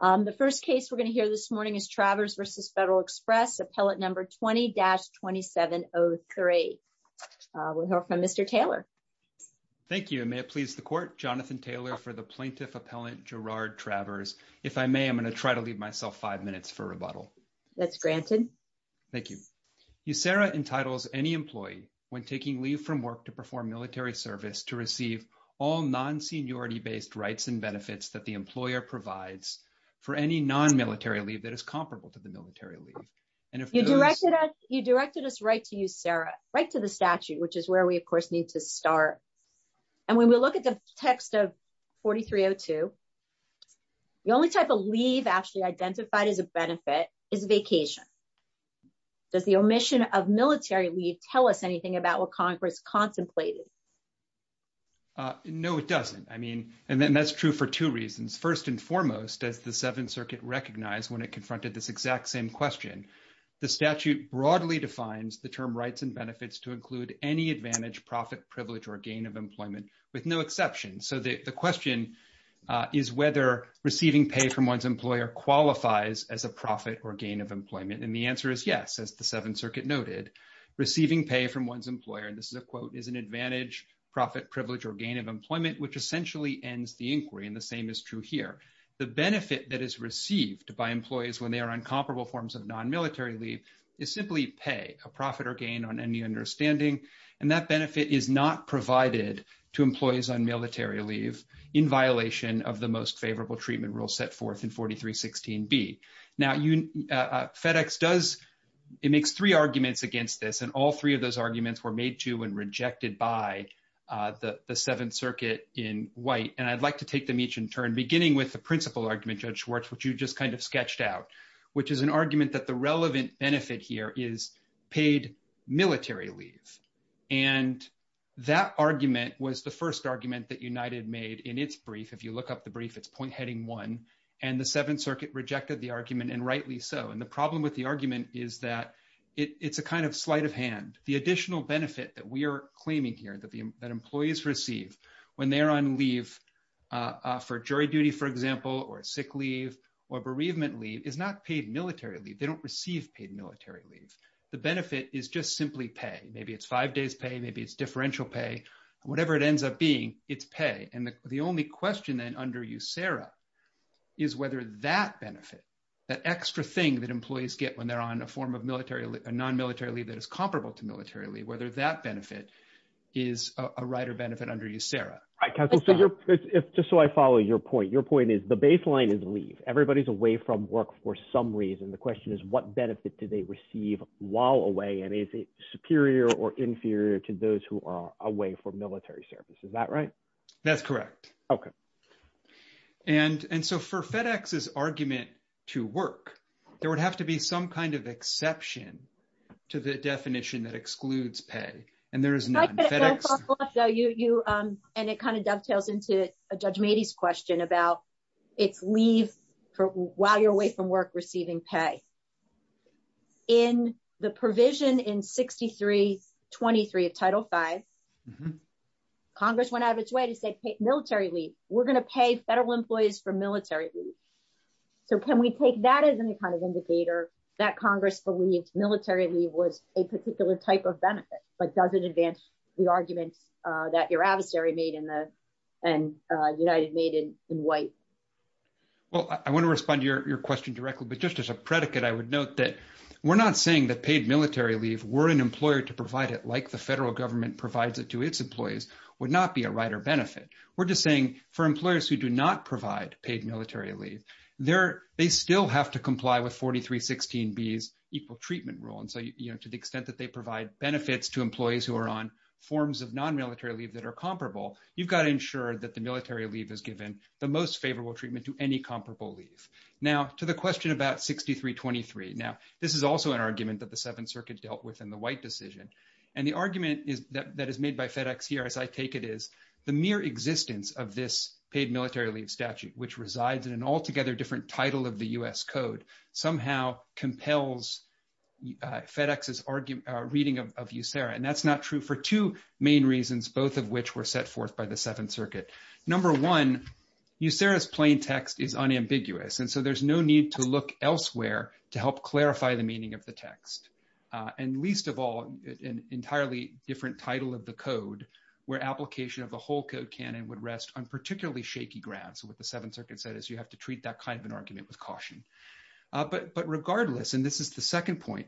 The first case we're going to hear this morning is Travers v. Federal Express, Appellate No. 20-2703. We'll hear from Mr. Taylor. Thank you, and may it please the Court, Jonathan Taylor for the Plaintiff Appellant Gerard Travers. If I may, I'm going to try to leave myself five minutes for rebuttal. That's granted. Thank you. USERA entitles any employee, when taking leave from work to perform military service, to receive all non-seniority-based rights and benefits that the employer provides for any non-military leave that is comparable to the military leave. You directed us right to USERA, right to the statute, which is where we, of course, need to start. And when we look at the text of 4302, the only type of leave actually identified as a benefit is vacation. Does the omission of military leave tell us anything about what Congress contemplated? No, it doesn't. I mean, and then that's true for two reasons. First and foremost, as the Seventh Circuit recognized when it confronted this exact same question, the statute broadly defines the term rights and benefits to include any advantage, profit, privilege, or gain of employment, with no exception. So the question is whether receiving pay from one's employer qualifies as a profit or gain of employment. And the answer is yes, as the Seventh Circuit noted. Receiving pay from one's employer, and this is a quote, is an advantage, profit, privilege, or gain of employment, which essentially ends the inquiry. And the same is true here. The benefit that is received by employees when they are on comparable forms of non-military leave is simply pay, a profit or gain on any understanding. And that benefit is not provided to employees on military leave in violation of the most favorable treatment set forth in 4316B. Now FedEx does, it makes three arguments against this, and all three of those arguments were made to and rejected by the Seventh Circuit in white. And I'd like to take them each in turn, beginning with the principal argument, Judge Schwartz, which you just kind of sketched out, which is an argument that the relevant benefit here is paid military leave. And that argument was the first argument that United made in its brief. If you look up the brief, it's point heading one, and the Seventh Circuit rejected the argument and rightly so. And the problem with the argument is that it's a kind of sleight of hand. The additional benefit that we are claiming here that employees receive when they're on leave for jury duty, for example, or sick leave or bereavement leave is not paid military leave. They don't receive paid military leave. The benefit is just simply pay. Maybe it's five days pay, maybe it's differential pay, whatever it ends up being, it's pay. And the only question then under USERRA is whether that benefit, that extra thing that employees get when they're on a form of non-military leave that is comparable to military leave, whether that benefit is a right or benefit under USERRA. Right, counsel. Just so I follow your point. Your point is the baseline is leave. Everybody's away from work for some reason. The question is what benefit do they receive while away, and is it military service? Is that right? That's correct. Okay. And so for FedEx's argument to work, there would have to be some kind of exception to the definition that excludes pay, and there is none. And it kind of dovetails into Judge Mady's question about it's leave while you're away from Congress. Congress went out of its way to say military leave. We're going to pay federal employees for military leave. So can we take that as any kind of indicator that Congress believed military leave was a particular type of benefit, but does it advance the arguments that your adversary made and United made in White? Well, I want to respond to your question directly, but just as a predicate, I would note that we're not saying that paid military leave, were an employer to provide it like the federal government provides it to its employees, would not be a right or benefit. We're just saying for employers who do not provide paid military leave, they still have to comply with 4316B's equal treatment rule. And so to the extent that they provide benefits to employees who are on forms of non-military leave that are comparable, you've got to ensure that the military leave is given the most favorable treatment to any comparable leave. Now, to the question about 6323. Now, this is also an argument that the White decision, and the argument that is made by FedEx here, as I take it, is the mere existence of this paid military leave statute, which resides in an altogether different title of the U.S. Code, somehow compels FedEx's reading of USERRA. And that's not true for two main reasons, both of which were set forth by the Seventh Circuit. Number one, USERRA's plain text is unambiguous. And so there's no need to look elsewhere to help clarify the meaning of the text. And least of all, an entirely different title of the code, where application of the whole code canon would rest on particularly shaky grounds. What the Seventh Circuit said is you have to treat that kind of an argument with caution. But regardless, and this is the second point,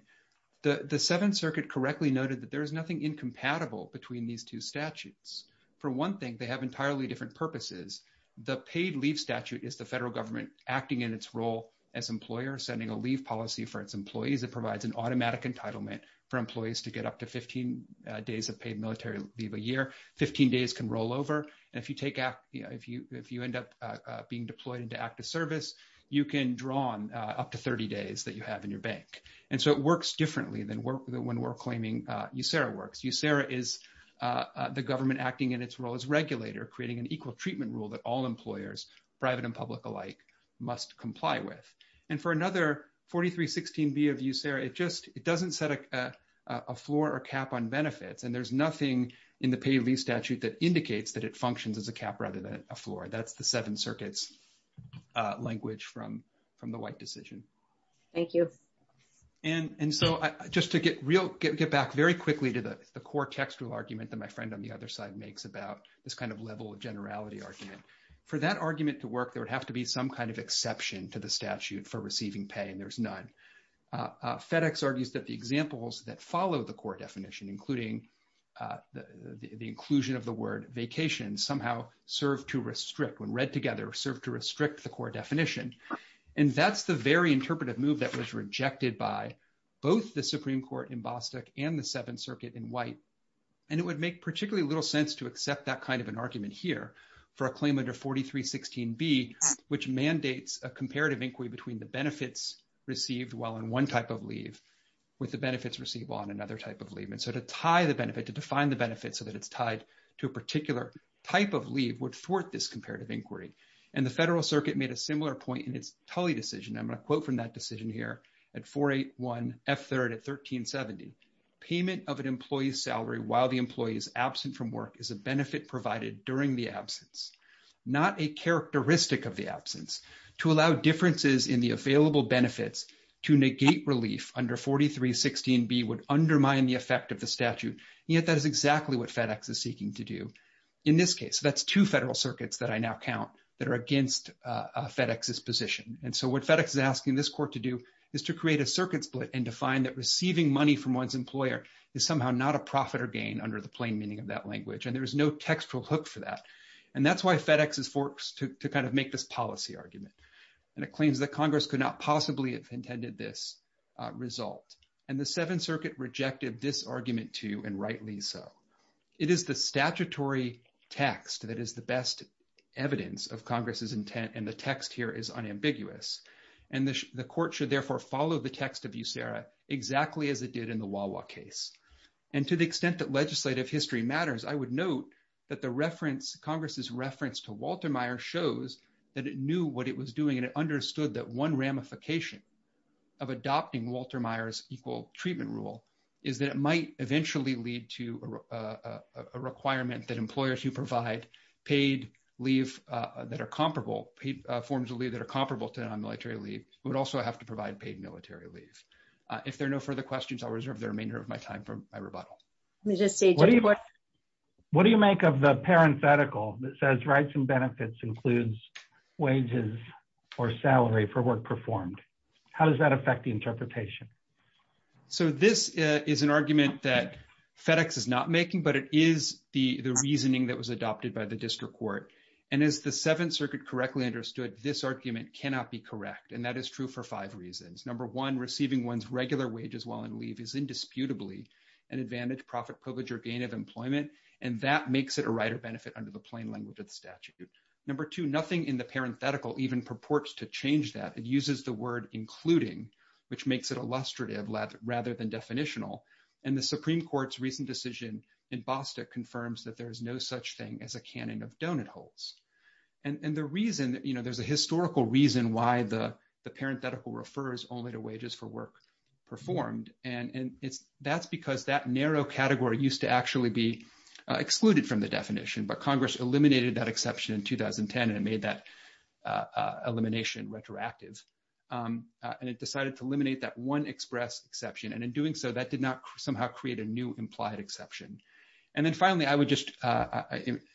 the Seventh Circuit correctly noted that there is nothing incompatible between these two statutes. For one thing, they have entirely different purposes. The paid leave statute is the federal government acting in its role as employer, sending a leave policy for its employees that provides an automatic entitlement for employees to get up to 15 days of paid military leave a year. 15 days can roll over. And if you end up being deployed into active service, you can draw on up to 30 days that you have in your bank. And so it works differently than when we're claiming USERRA works. USERRA is the government acting in its role as regulator, creating an equal treatment rule that all employers, private and public alike, must comply with. And for another 4316B of USERRA, it doesn't set a floor or cap on benefits. And there's nothing in the paid leave statute that indicates that it functions as a cap rather than a floor. That's the Seventh Circuit's language from the White decision. Thank you. And so just to get back very quickly to the core textual argument that my friend on the other side makes about this kind of level of generality argument. For that argument to work, there would be some kind of exception to the statute for receiving pay, and there's none. FedEx argues that the examples that follow the core definition, including the inclusion of the word vacation, somehow serve to restrict, when read together, serve to restrict the core definition. And that's the very interpretive move that was rejected by both the Supreme Court in Bostock and the Seventh Circuit in White. And it would make particularly little sense to accept that kind of an argument here for a claim under 4316B, which mandates a comparative inquiry between the benefits received while on one type of leave with the benefits receivable on another type of leave. And so to tie the benefit, to define the benefit so that it's tied to a particular type of leave would thwart this comparative inquiry. And the Federal Circuit made a similar point in its Tully decision. I'm going to quote from that decision here at 481F3 at 1370. Payment of an during the absence, not a characteristic of the absence, to allow differences in the available benefits to negate relief under 4316B would undermine the effect of the statute. Yet that is exactly what FedEx is seeking to do in this case. That's two federal circuits that I now count that are against FedEx's position. And so what FedEx is asking this court to do is to create a circuit split and define that receiving money from one's employer is somehow not a profit or gain under the plain meaning of that language. And there is no textual hook for that. And that's why FedEx is forced to kind of make this policy argument. And it claims that Congress could not possibly have intended this result. And the Seventh Circuit rejected this argument too, and rightly so. It is the statutory text that is the best evidence of Congress's intent. And the text here is unambiguous. And the court should therefore follow the text of USERA exactly as it did in the Wawa case. And to the extent that legislative history matters, I would note that the reference, Congress's reference to Walter Meyer shows that it knew what it was doing and it understood that one ramification of adopting Walter Meyer's equal treatment rule is that it might eventually lead to a requirement that employers who provide paid leave that are comparable, paid forms of leave that are comparable to non-military leave would also have to provide paid military leave. If there are no further questions, I'll reserve the remainder of my time for my rebuttal. Let me just say- What do you make of the parenthetical that says rights and benefits includes wages or salary for work performed? How does that affect the interpretation? So this is an argument that FedEx is not making, but it is the reasoning that was adopted by the district court. And as the Seventh Circuit correctly understood, this argument cannot be Number one, receiving one's regular wages while on leave is indisputably an advantage, profit, privilege, or gain of employment, and that makes it a right or benefit under the plain language of the statute. Number two, nothing in the parenthetical even purports to change that. It uses the word including, which makes it illustrative rather than definitional. And the Supreme Court's recent decision in Bostock confirms that there is no such thing as a canon of donut holes. And the reason, you know, there's a historical reason why the only to wages for work performed. And that's because that narrow category used to actually be excluded from the definition. But Congress eliminated that exception in 2010 and made that elimination retroactive. And it decided to eliminate that one express exception. And in doing so, that did not somehow create a new implied exception. And then finally, I would just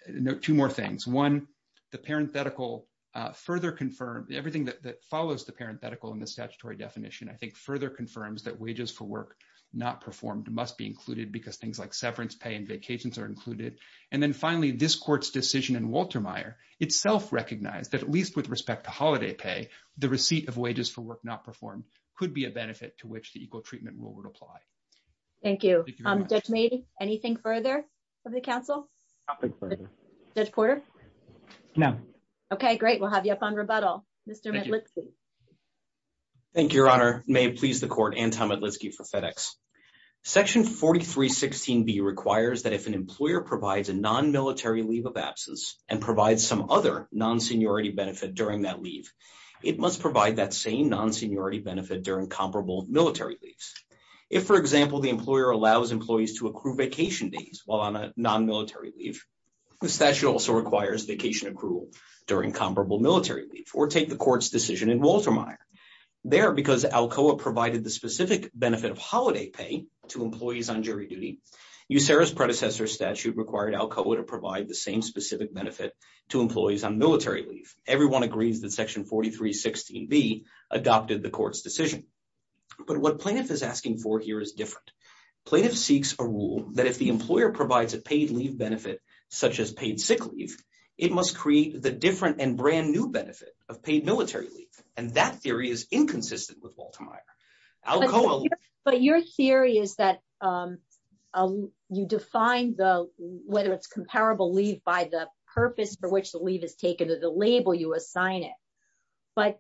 note two more things. One, the parenthetical further confirmed everything that follows the parenthetical in the statutory definition. I think further confirms that wages for work not performed must be included because things like severance pay and vacations are included. And then finally, this court's decision in Walter Meyer itself recognized that at least with respect to holiday pay, the receipt of wages for work not performed could be a benefit to which the equal treatment rule would apply. Thank you. Judge Meade, anything further of the council? Judge Porter? No. Okay, great. We'll have you up on rebuttal. Mr. Medlitsky. Thank you, Your Honor. May it please the court, Anton Medlitsky for FedEx. Section 4316B requires that if an employer provides a non-military leave of absence and provides some other non-seniority benefit during that leave, it must provide that same non-seniority benefit during comparable military leaves. If, for example, the employer allows employees to accrue vacation days while on a non-military leave, the statute also requires vacation accrual during comparable military leave, or take the court's decision in Walter Meyer. There, because ALCOA provided the specific benefit of holiday pay to employees on jury duty, USERRA's predecessor statute required ALCOA to provide the same specific benefit to employees on military leave. Everyone agrees that Section 4316B adopted the court's decision. But what plaintiff is asking for here is different. Plaintiff seeks a rule that if the employer provides a paid leave benefit, such as paid sick leave, it must create the different and brand new benefit of paid military leave. And that theory is inconsistent with Walter Meyer. ALCOA... But your theory is that you define whether it's comparable leave by the purpose for which the leave is taken or the label you assign it. But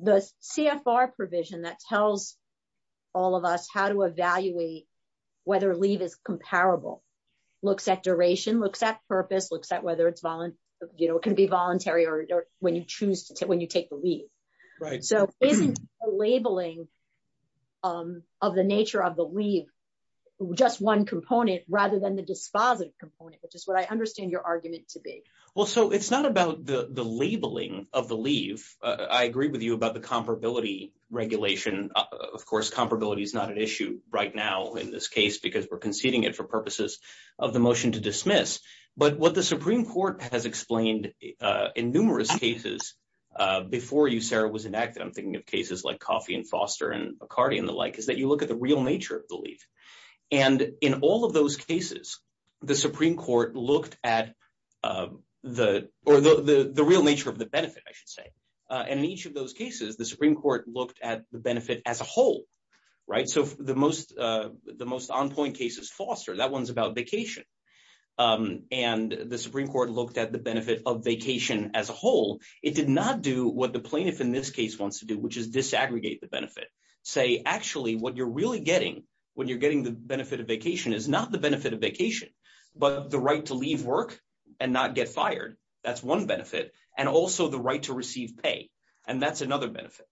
the CFR provision that tells all of us how to evaluate whether leave is comparable looks at duration, looks at purpose, looks at whether it can be voluntary or when you take the leave. So isn't the labeling of the nature of the leave just one component rather than the dispositive component, which is what I understand your argument to be? Well, so it's not about the labeling of the leave. I agree with you about comparability regulation. Of course, comparability is not an issue right now in this case because we're conceding it for purposes of the motion to dismiss. But what the Supreme Court has explained in numerous cases before USERRA was enacted, I'm thinking of cases like Coffey and Foster and McCarty and the like, is that you look at the real nature of the leave. And in all of those cases, the Supreme Court looked at the benefit as a whole. So the most on-point cases, Foster, that one's about vacation. And the Supreme Court looked at the benefit of vacation as a whole. It did not do what the plaintiff in this case wants to do, which is disaggregate the benefit. Say, actually, what you're really getting when you're getting the benefit of vacation is not the benefit of vacation, but the right to leave work and not get fired. That's one benefit. And also the right to receive pay. And that's another benefit.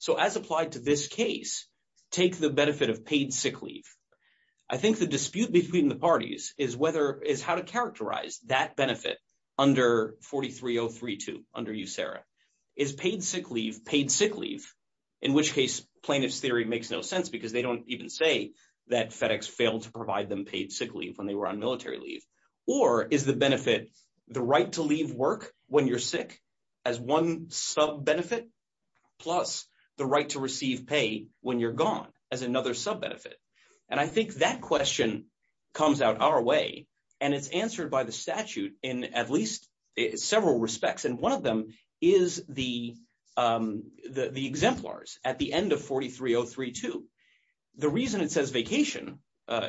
So as applied to this case, take the benefit of paid sick leave. I think the dispute between the parties is how to characterize that benefit under 43032, under USERRA. Is paid sick leave paid sick leave? In which case, plaintiff's theory makes no sense because they don't even say that FedEx failed to provide them paid sick leave when they were on military leave. Or is the benefit the right to leave work when you're sick as one sub-benefit plus the right to receive pay when you're gone as another sub-benefit? And I think that question comes out our way. And it's answered by the statute in at least several respects. And one of them is the exemplars at the end of 43032. The reason it says vacation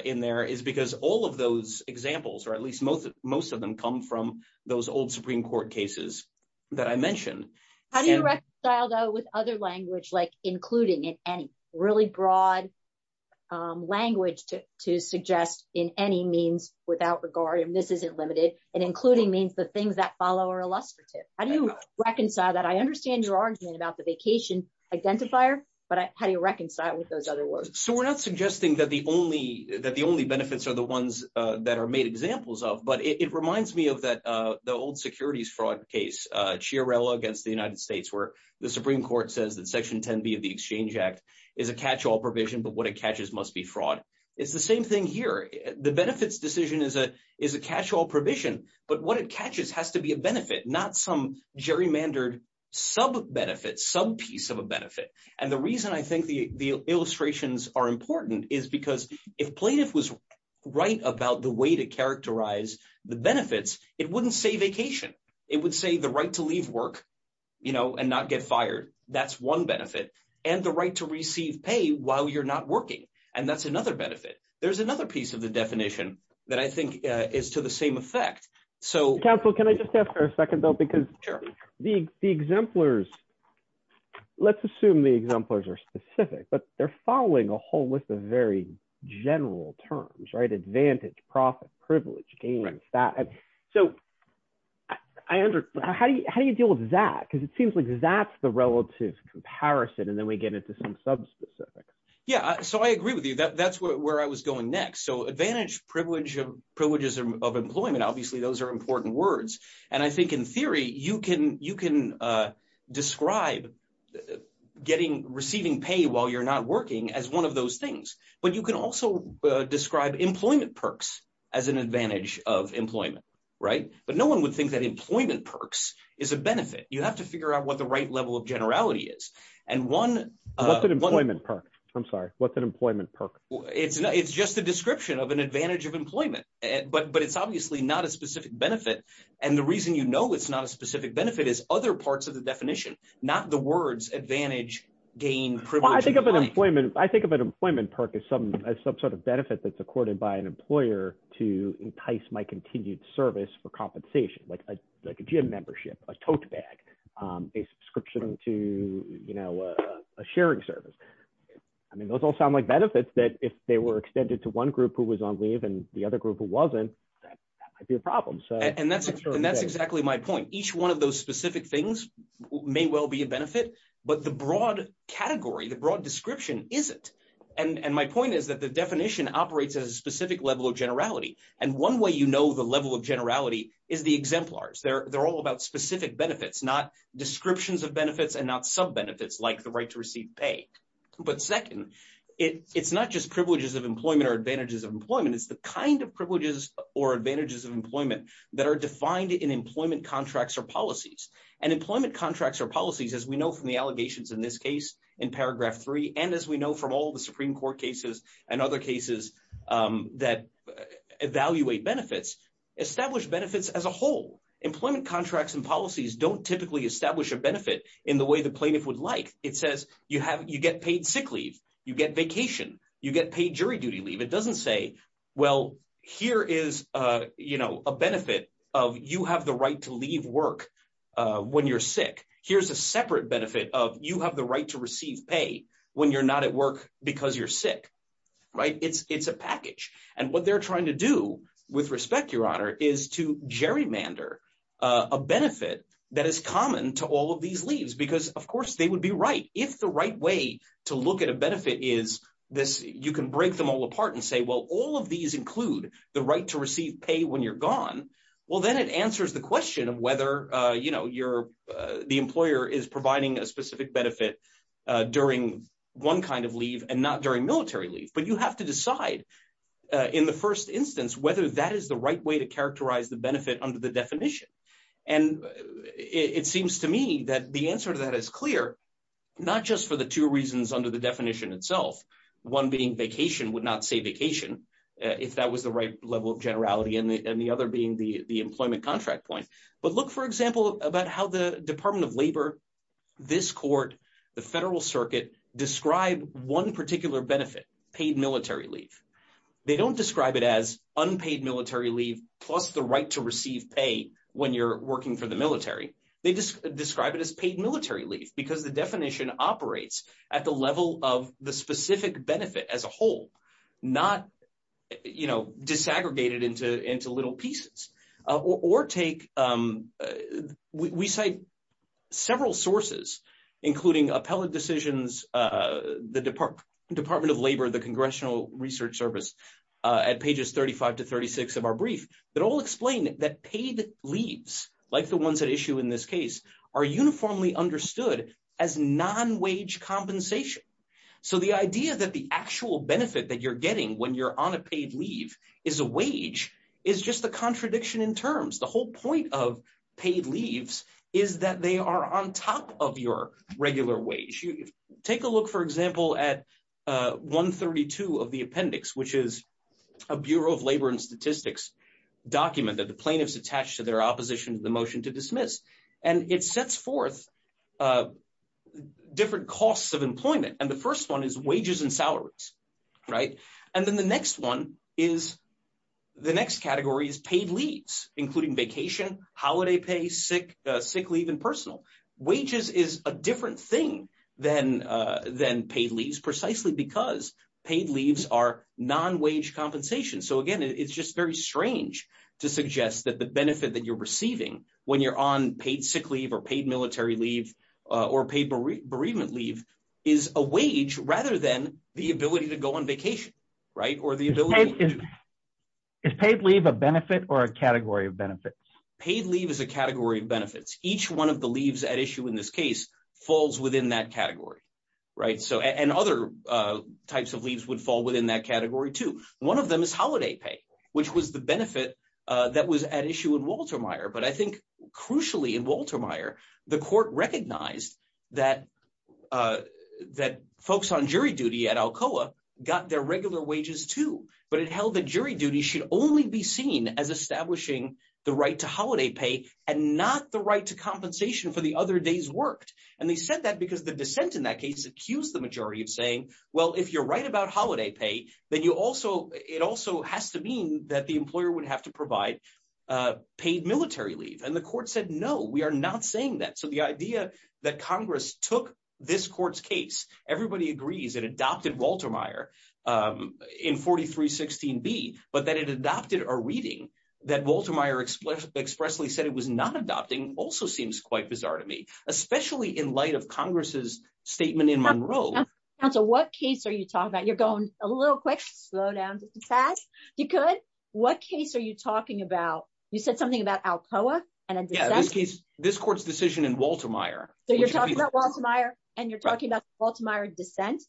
in there is because all of those examples, or at least most of them, come from those old Supreme Court cases that I mentioned. How do you reconcile though with other language like including in any? Really broad language to suggest in any means without regard, and this isn't limited, and including means the things that follow are illustrative. How do you reconcile that? I understand your argument about the vacation identifier, but how do you reconcile with those other words? So we're not suggesting that the only benefits are the ones that are made examples of, but it reminds me of the old securities fraud case, Chiarella against the United States, where the Supreme Court says that Section 10B of the Exchange Act is a catch-all provision, but what it catches must be fraud. It's the same thing here. The benefits decision is a catch-all provision, but what it catches has to be a benefit, not some gerrymandered sub-benefit, sub-piece of a benefit, and the reason I think the illustrations are important is because if plaintiff was right about the way to characterize the benefits, it wouldn't say vacation. It would say the right to leave work and not get fired. That's one benefit, and the right to receive pay while you're not working, and that's another benefit. There's another piece of the definition that I think is to the same effect. Counsel, can I just ask for a second though, because the exemplars, let's assume the exemplars are specific, but they're following a whole list of very general terms, right? Advantage, profit, privilege, gains, that. So how do you deal with that? Because it seems like that's the relative comparison, and then we get into some subspecific. Yeah, so I agree with you. That's where I was going next. So advantage, privilege, privileges of employment, obviously those are important words, and I think in theory you can describe receiving pay while you're not working as one of those things, but you can also describe employment perks as an advantage of employment, right? But no one would think that employment perks is a benefit. You have to figure out what the right level of generality is, and one- What's an employment perk? I'm sorry. What's an employment perk? It's just a description of an advantage of employment, but it's obviously not a specific benefit, and the reason you know it's not a specific benefit is other parts of the definition, not the words advantage, gain, privilege. I think of an employment perk as some sort of benefit that's accorded by an employer to entice my continued service for compensation, like a gym membership, a tote bag, a subscription to a sharing service. I mean, those all sound like if they were extended to one group who was on leave and the other group who wasn't, that might be a problem. And that's exactly my point. Each one of those specific things may well be a benefit, but the broad category, the broad description isn't, and my point is that the definition operates at a specific level of generality, and one way you know the level of generality is the exemplars. They're all about specific benefits, not descriptions of benefits and not sub-benefits like the right to receive pay. But second, it's not just privileges of employment or advantages of employment. It's the kind of privileges or advantages of employment that are defined in employment contracts or policies, and employment contracts or policies, as we know from the allegations in this case, in paragraph three, and as we know from all the Supreme Court cases and other cases that evaluate benefits, establish benefits as a whole. Employment contracts and policies don't typically establish a benefit in the way the plaintiff would like. It says you have, you get paid sick leave, you get vacation, you get paid jury duty leave. It doesn't say, well, here is, you know, a benefit of you have the right to leave work when you're sick. Here's a separate benefit of you have the right to receive pay when you're not at work because you're sick, right? It's a package, and what they're trying to do with respect, Your Honor, is to establish a benefit that is common to all of these leaves because, of course, they would be right. If the right way to look at a benefit is this, you can break them all apart and say, well, all of these include the right to receive pay when you're gone. Well, then it answers the question of whether, you know, you're, the employer is providing a specific benefit during one kind of leave and not during military leave. But you have to decide in the first instance whether that is the right way to leave. And it seems to me that the answer to that is clear, not just for the two reasons under the definition itself, one being vacation would not say vacation, if that was the right level of generality, and the other being the employment contract point. But look, for example, about how the Department of Labor, this court, the Federal Circuit, describe one particular benefit, paid military leave. They don't describe it as unpaid military leave plus the right to receive pay when you're working for the military. They just describe it as paid military leave, because the definition operates at the level of the specific benefit as a whole, not, you know, disaggregated into little pieces. Or take, we cite several sources, including appellate decisions, the Department of Labor, the Congressional Research Service, at pages 35 to 36 of our brief, that all explain that paid leaves, like the ones at issue in this case, are uniformly understood as non-wage compensation. So the idea that the actual benefit that you're getting when you're on a paid leave is a wage is just a contradiction in terms. The whole point of paid leaves is that they are on top of your regular wage. Take a look, for example, at 132 of the appendix, which is a Bureau of Labor and Statistics document that the plaintiffs attach to their opposition to the motion to dismiss. And it sets forth different costs of employment. And the first one is wages and salaries, right? And then the next one is, the next category is paid leaves, including vacation, holiday pay, sick leave, and personal. Wages is a different thing than paid leaves, precisely because paid leaves are non-wage compensation. So again, it's just very strange to suggest that the benefit that you're receiving when you're on paid sick leave or paid military leave or paid bereavement leave is a wage, rather than the ability to go on vacation, right? Or the ability- Is paid leave a benefit or a category of benefits? Paid leave is a category of benefits. Each one of the leaves at issue in this case falls within that category, right? And other types of leaves would fall within that category too. One of them is holiday pay, which was the benefit that was at issue in Walter Meyer. But I think, crucially in Walter Meyer, the court recognized that folks on jury duty at Alcoa got their holiday pay and not the right to compensation for the other days worked. And they said that because the dissent in that case accused the majority of saying, well, if you're right about holiday pay, then it also has to mean that the employer would have to provide paid military leave. And the court said, no, we are not saying that. So the idea that Congress took this court's case, everybody agrees it adopted Walter Meyer in 4316B, but that it adopted a reading that expressly said it was not adopting also seems quite bizarre to me, especially in light of Congress's statement in Monroe. Counsel, what case are you talking about? You're going a little quick, slow down just a tad. If you could, what case are you talking about? You said something about Alcoa and a dissent? Yeah, in this case, this court's decision in Walter Meyer. So you're talking about Walter Meyer and you're talking about Walter Meyer dissent?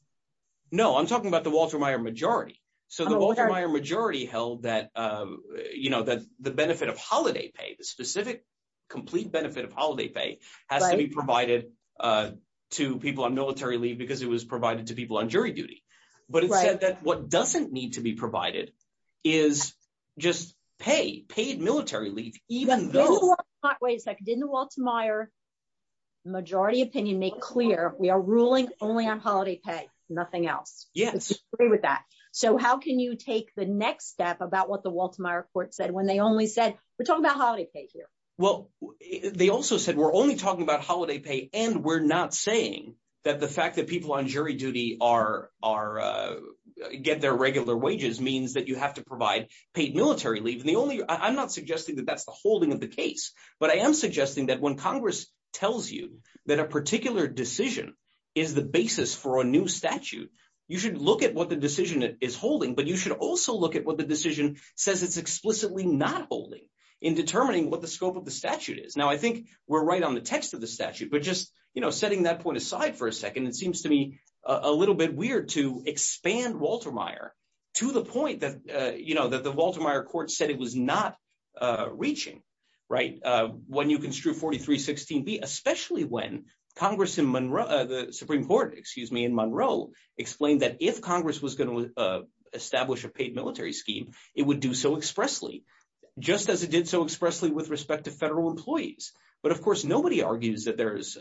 No, I'm talking about the Walter Meyer majority. So the Walter Meyer majority held that the benefit of holiday pay, the specific complete benefit of holiday pay has to be provided to people on military leave because it was provided to people on jury duty. But it said that what doesn't need to be provided is just pay, paid military leave, even though- Wait a second, didn't the Walter Meyer majority opinion make clear we are ruling only on holiday pay, nothing else? Yes. I agree with that. So how can you take the next step about what the Walter Meyer majority said? We're talking about holiday pay here. Well, they also said we're only talking about holiday pay and we're not saying that the fact that people on jury duty get their regular wages means that you have to provide paid military leave. I'm not suggesting that that's the holding of the case, but I am suggesting that when Congress tells you that a particular decision is the basis for a new statute, you should look at what the decision is holding, but you should also look at what the decision says it's explicitly not holding in determining what the scope of the statute is. Now, I think we're right on the text of the statute, but just setting that point aside for a second, it seems to me a little bit weird to expand Walter Meyer to the point that the Walter Meyer court said it was not reaching when you construe 4316B, especially when Congress the Supreme Court, excuse me, in Monroe explained that if Congress was going to establish a paid military scheme, it would do so expressly, just as it did so expressly with respect to federal employees. But of course, nobody argues that there's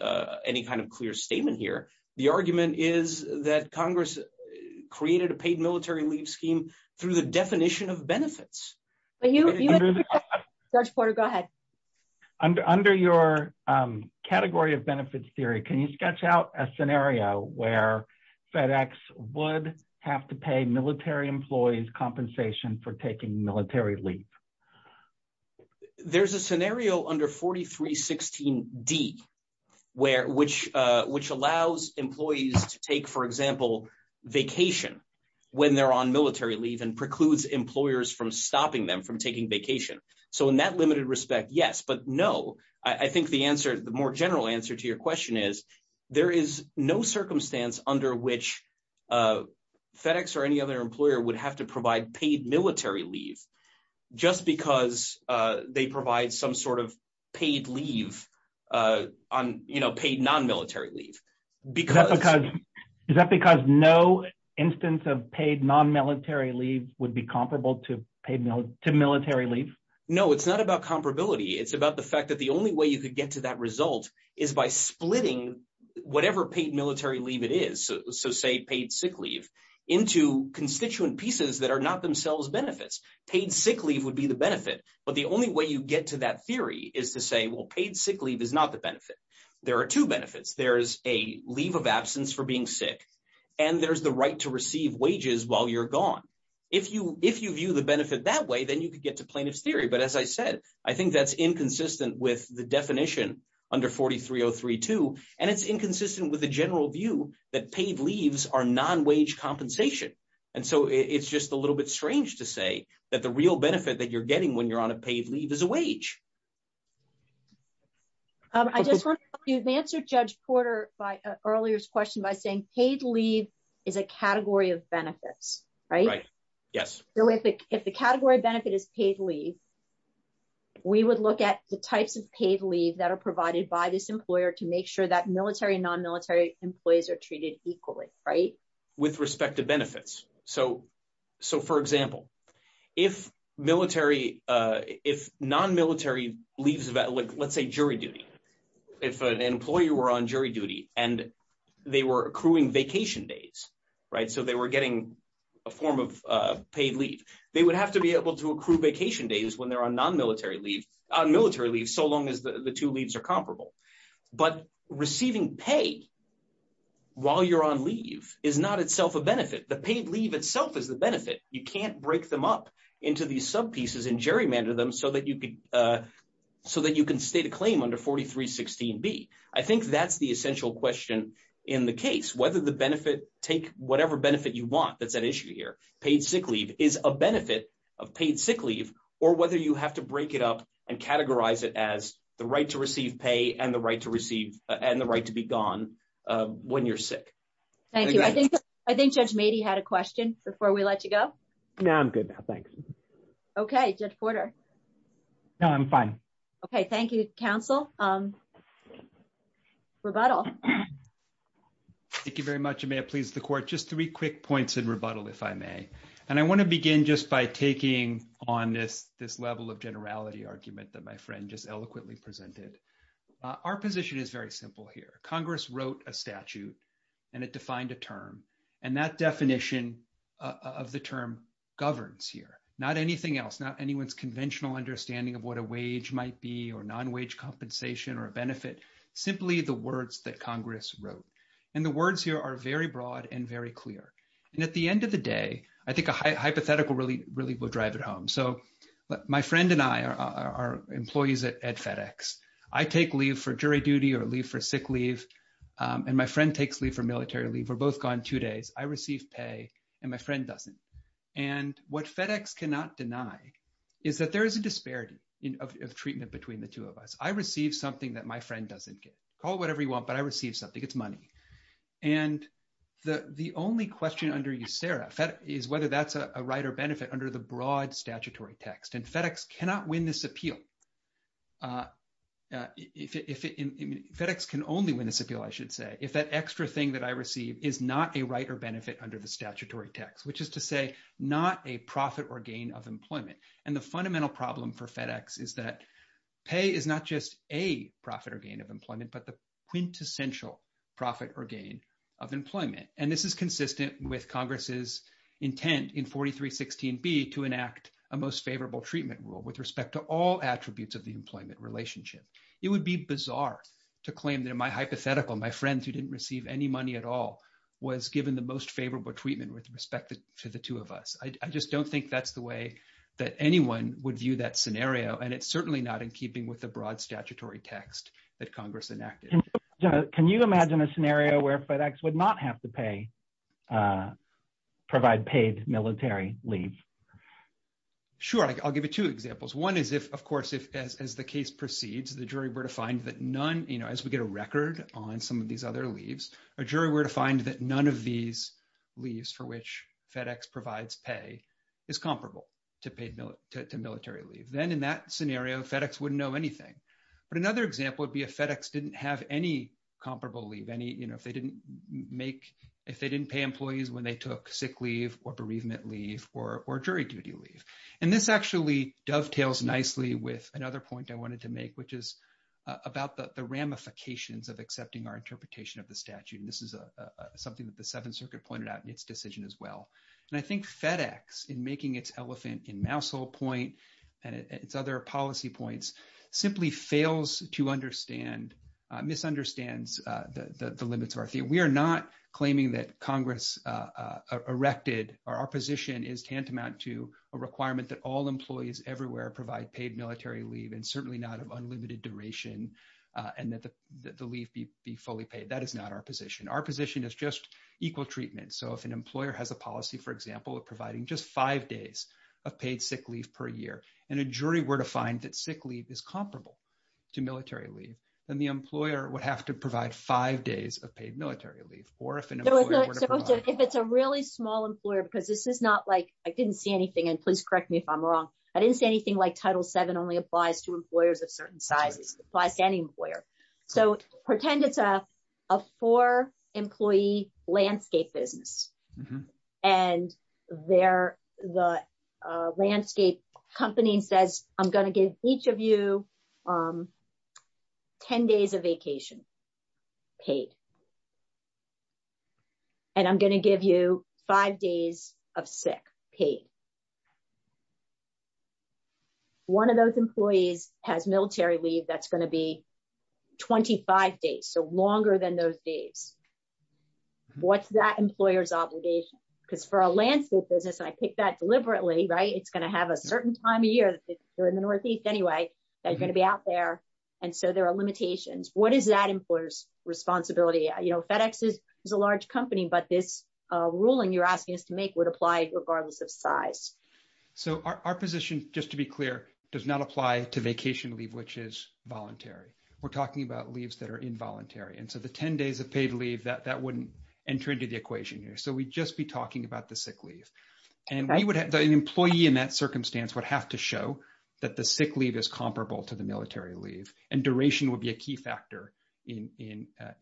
any kind of clear statement here. The argument is that Congress created a paid military leave scheme through the definition of benefits. But you, George Porter, go ahead. Under your category of benefits theory, can you sketch out a scenario where FedEx would have to pay military employees compensation for taking military leave? There's a scenario under 4316D, which allows employees to take, for example, vacation when they're on military leave and precludes employers from stopping them from taking vacation. So in that limited respect, yes. But no, I think the answer, the more general answer to your question is there is no circumstance under which FedEx or any other employer would have to provide paid military leave just because they provide some sort of paid leave on paid non-military leave. Is that because no instance of paid non-military leave would be comparable to paid military leave? No, it's not about comparability. It's about the fact that the only way you could get to that result is by splitting whatever paid military leave it is, so say paid sick leave, into constituent pieces that are not themselves benefits. Paid sick leave would be the benefit, but the only way you get to that theory is to say, well, paid sick leave is not the benefit. There are two benefits. There's a leave of absence for being sick and there's the right to receive wages while you're gone. If you view the benefit that way, then you could get to plaintiff's theory. But as I said, I think that's inconsistent with the definition under 43032, and it's inconsistent with the general view that paid leaves are non-wage compensation. And so it's just a little bit strange to say that the real benefit that you're getting when you're on a paid leave is a wage. I just want to answer Judge Porter earlier's question by saying paid leave is a category of benefits, right? Right, yes. If the category benefit is paid leave, we would look at the types of paid leave that are provided by this employer to make sure that military and non-military employees are treated equally, right? With respect to benefits. So for example, if non-military leaves, let's say jury duty, if an employee were on jury duty and they were accruing vacation days, right, so they were getting a form of paid leave, they would have to be able to accrue vacation days when they're on non-military leave, on military leave, so long as the two leaves are comparable. But receiving pay while you're on leave is not itself a benefit. The paid leave itself is the benefit. You can't break them up into these sub pieces and gerrymander them so that you could, so that you can state a claim under 4316b. I think that's the essential question in the case, whether the benefit take whatever benefit you want, that's an issue here. Paid sick leave is a benefit of paid sick leave or whether you have to break it up and categorize it as the right to receive pay and the right to receive and the right to be gone when you're sick. Thank you. I think Judge Mady had a question before we let you go. No, I'm good now, thanks. Okay, Judge Porter. No, I'm fine. Okay, thank you, counsel. Rebuttal. Thank you very much, and may it please the court, just three quick points in rebuttal, if I may. And I want to begin just by taking on this level of generality argument that my friend just eloquently presented. Our position is very simple here. Congress wrote a statute and it defined a term, and that definition of the term governs here, not anything else, not anyone's conventional understanding of what a wage might be or non-wage compensation or a benefit, simply the words that Congress wrote. And the words here are very broad and very clear. And at the end of the day, I think a hypothetical really will drive it home. So my friend and I are employees at FedEx. I take leave for jury duty or leave for sick leave, and my friend takes leave for military leave. We're both gone two days. I receive pay and my friend doesn't. And what FedEx cannot deny is that there is a disparity of treatment between the two of us. I receive something that my friend doesn't get. Call it whatever you want, but I receive something. It's money. And the only question under USERRA is whether that's a right or benefit under the broad statutory text. And FedEx cannot win this appeal. FedEx can only win this appeal, I should say, if that extra thing that I receive is not a right or benefit under the statutory text, which is to say not a profit or gain of employment. And the fundamental problem for FedEx is that pay is not just a profit or gain of employment, but the quintessential profit or gain of employment. And this is consistent with Congress's intent in 4316b to enact a most favorable treatment rule with respect to all attributes of the employment relationship. It would be bizarre to claim that my hypothetical, my friend who didn't receive any at all, was given the most favorable treatment with respect to the two of us. I just don't think that's the way that anyone would view that scenario. And it's certainly not in keeping with the broad statutory text that Congress enacted. Can you imagine a scenario where FedEx would not have to pay, provide paid military leave? Sure. I'll give you two examples. One is if, of course, if as the case proceeds, the jury were to find that none, you know, as we get a jury were to find that none of these leaves for which FedEx provides pay is comparable to paid military leave. Then in that scenario, FedEx wouldn't know anything. But another example would be if FedEx didn't have any comparable leave, any, you know, if they didn't make, if they didn't pay employees when they took sick leave or bereavement leave or jury duty leave. And this actually dovetails nicely with another point I wanted to make, which is about the ramifications of accepting our interpretation of the statute. And this is something that the Seventh Circuit pointed out in its decision as well. And I think FedEx in making its elephant in mousehole point and its other policy points simply fails to understand, misunderstands the limits of our theory. We are not claiming that Congress erected or our position is tantamount to a requirement that all employees everywhere provide paid military leave and certainly not of unlimited duration and that the leave be fully paid. That is not our position. Our position is just equal treatment. So if an employer has a policy, for example, of providing just five days of paid sick leave per year, and a jury were to find that sick leave is comparable to military leave, then the employer would have to provide five days of paid military leave. Or if it's a really small employer, because this is not like, I didn't see anything and please correct me if I'm wrong. I didn't see anything like Title VII only applies to employers of certain sizes, applies to any employer. So pretend it's a four employee landscape business. And the landscape company says, I'm going to give each of you 10 days of vacation paid. And I'm going to give you five days of sick paid. One of those employees has military leave that's going to be 25 days, so longer than those days. What's that employer's obligation? Because for a landscape business, and I picked that deliberately, right, it's going to have a certain time of year, they're in the northeast anyway, they're going to be out there. And so there are limitations. What is that employer's responsibility? You know, FedEx is a large company, but this ruling you're asking us to make would apply regardless of size. So our position, just to be clear, does not apply to vacation leave, which is voluntary. We're talking about leaves that are involuntary. And so the 10 days of paid leave, that wouldn't enter into the equation here. So we'd just be talking about the sick leave. And an employee in that circumstance would have to show that the sick leave is comparable to the military leave. And duration would be a key factor in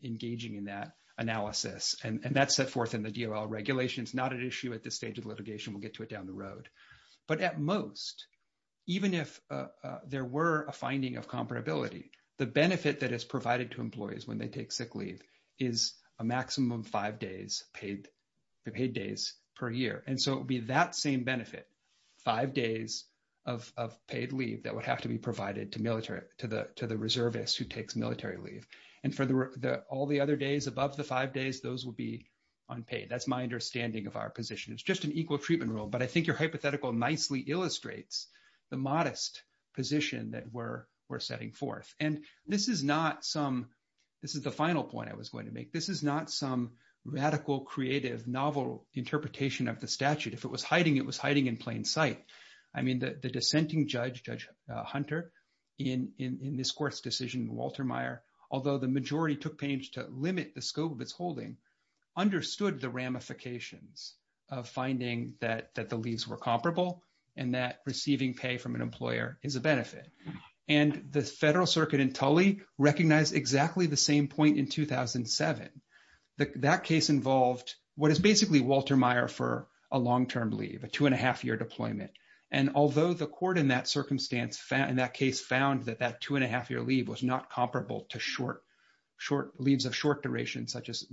engaging in that analysis. And that's set forth in the DOL regulations, not an issue at this stage of litigation, we'll get to it down the road. But at most, even if there were a finding of comparability, the benefit that is provided to employees when they take sick leave is a maximum five days paid, the paid days per year. And so it would be that same benefit, five days of paid leave that would have to be provided to the reservist who takes military leave. And for all the other days above the five days, those will be unpaid. That's my understanding of our position. It's just an equal treatment rule. But I think your hypothetical nicely illustrates the modest position that we're setting forth. And this is not some, this is the final point I was going to make. This is not some radical, creative, novel interpretation of the statute. If it was hiding, it was hiding in plain sight. I mean, the dissenting judge, Judge Hunter, in this court's decision, Walter Meyer, although the majority took pains to limit the scope of its holding, understood the ramifications of finding that the leaves were comparable, and that receiving pay from an employer is a benefit. And the Federal Circuit in Tully recognized exactly the same point in 2007. That case involved what is basically Walter Meyer for a long-term leave, a two-and-a-half-year deployment. And although the court in that circumstance, in that case, found that that two-and-a-half-year leave was not comparable to short, short leaves of short duration, such as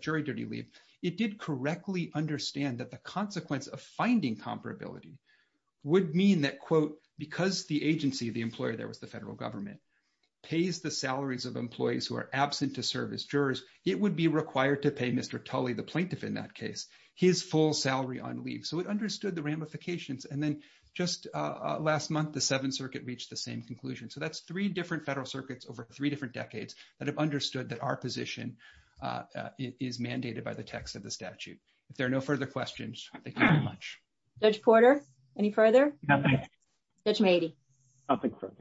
jury duty leave, it did correctly understand that the consequence of finding comparability would mean that, quote, because the agency, the employer, there was the federal government, pays the salaries of employees who are absent to serve as jurors, it would be required to pay Mr. Tully, the plaintiff in that case, his full salary on leave. So it understood the ramifications. And then just last month, the Seventh Circuit reached the same conclusion. So that's three different Federal Circuits over three different decades that have understood that our position is mandated by the text of the statute. If there are no further questions, thank you very much. Judge Porter, any further? Nothing. Judge Meadey? Nothing further.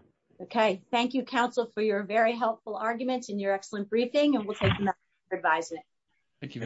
Okay. Thank you, counsel, for your very helpful arguments and your excellent briefing, and we'll take them up for advisement. Thank you very much.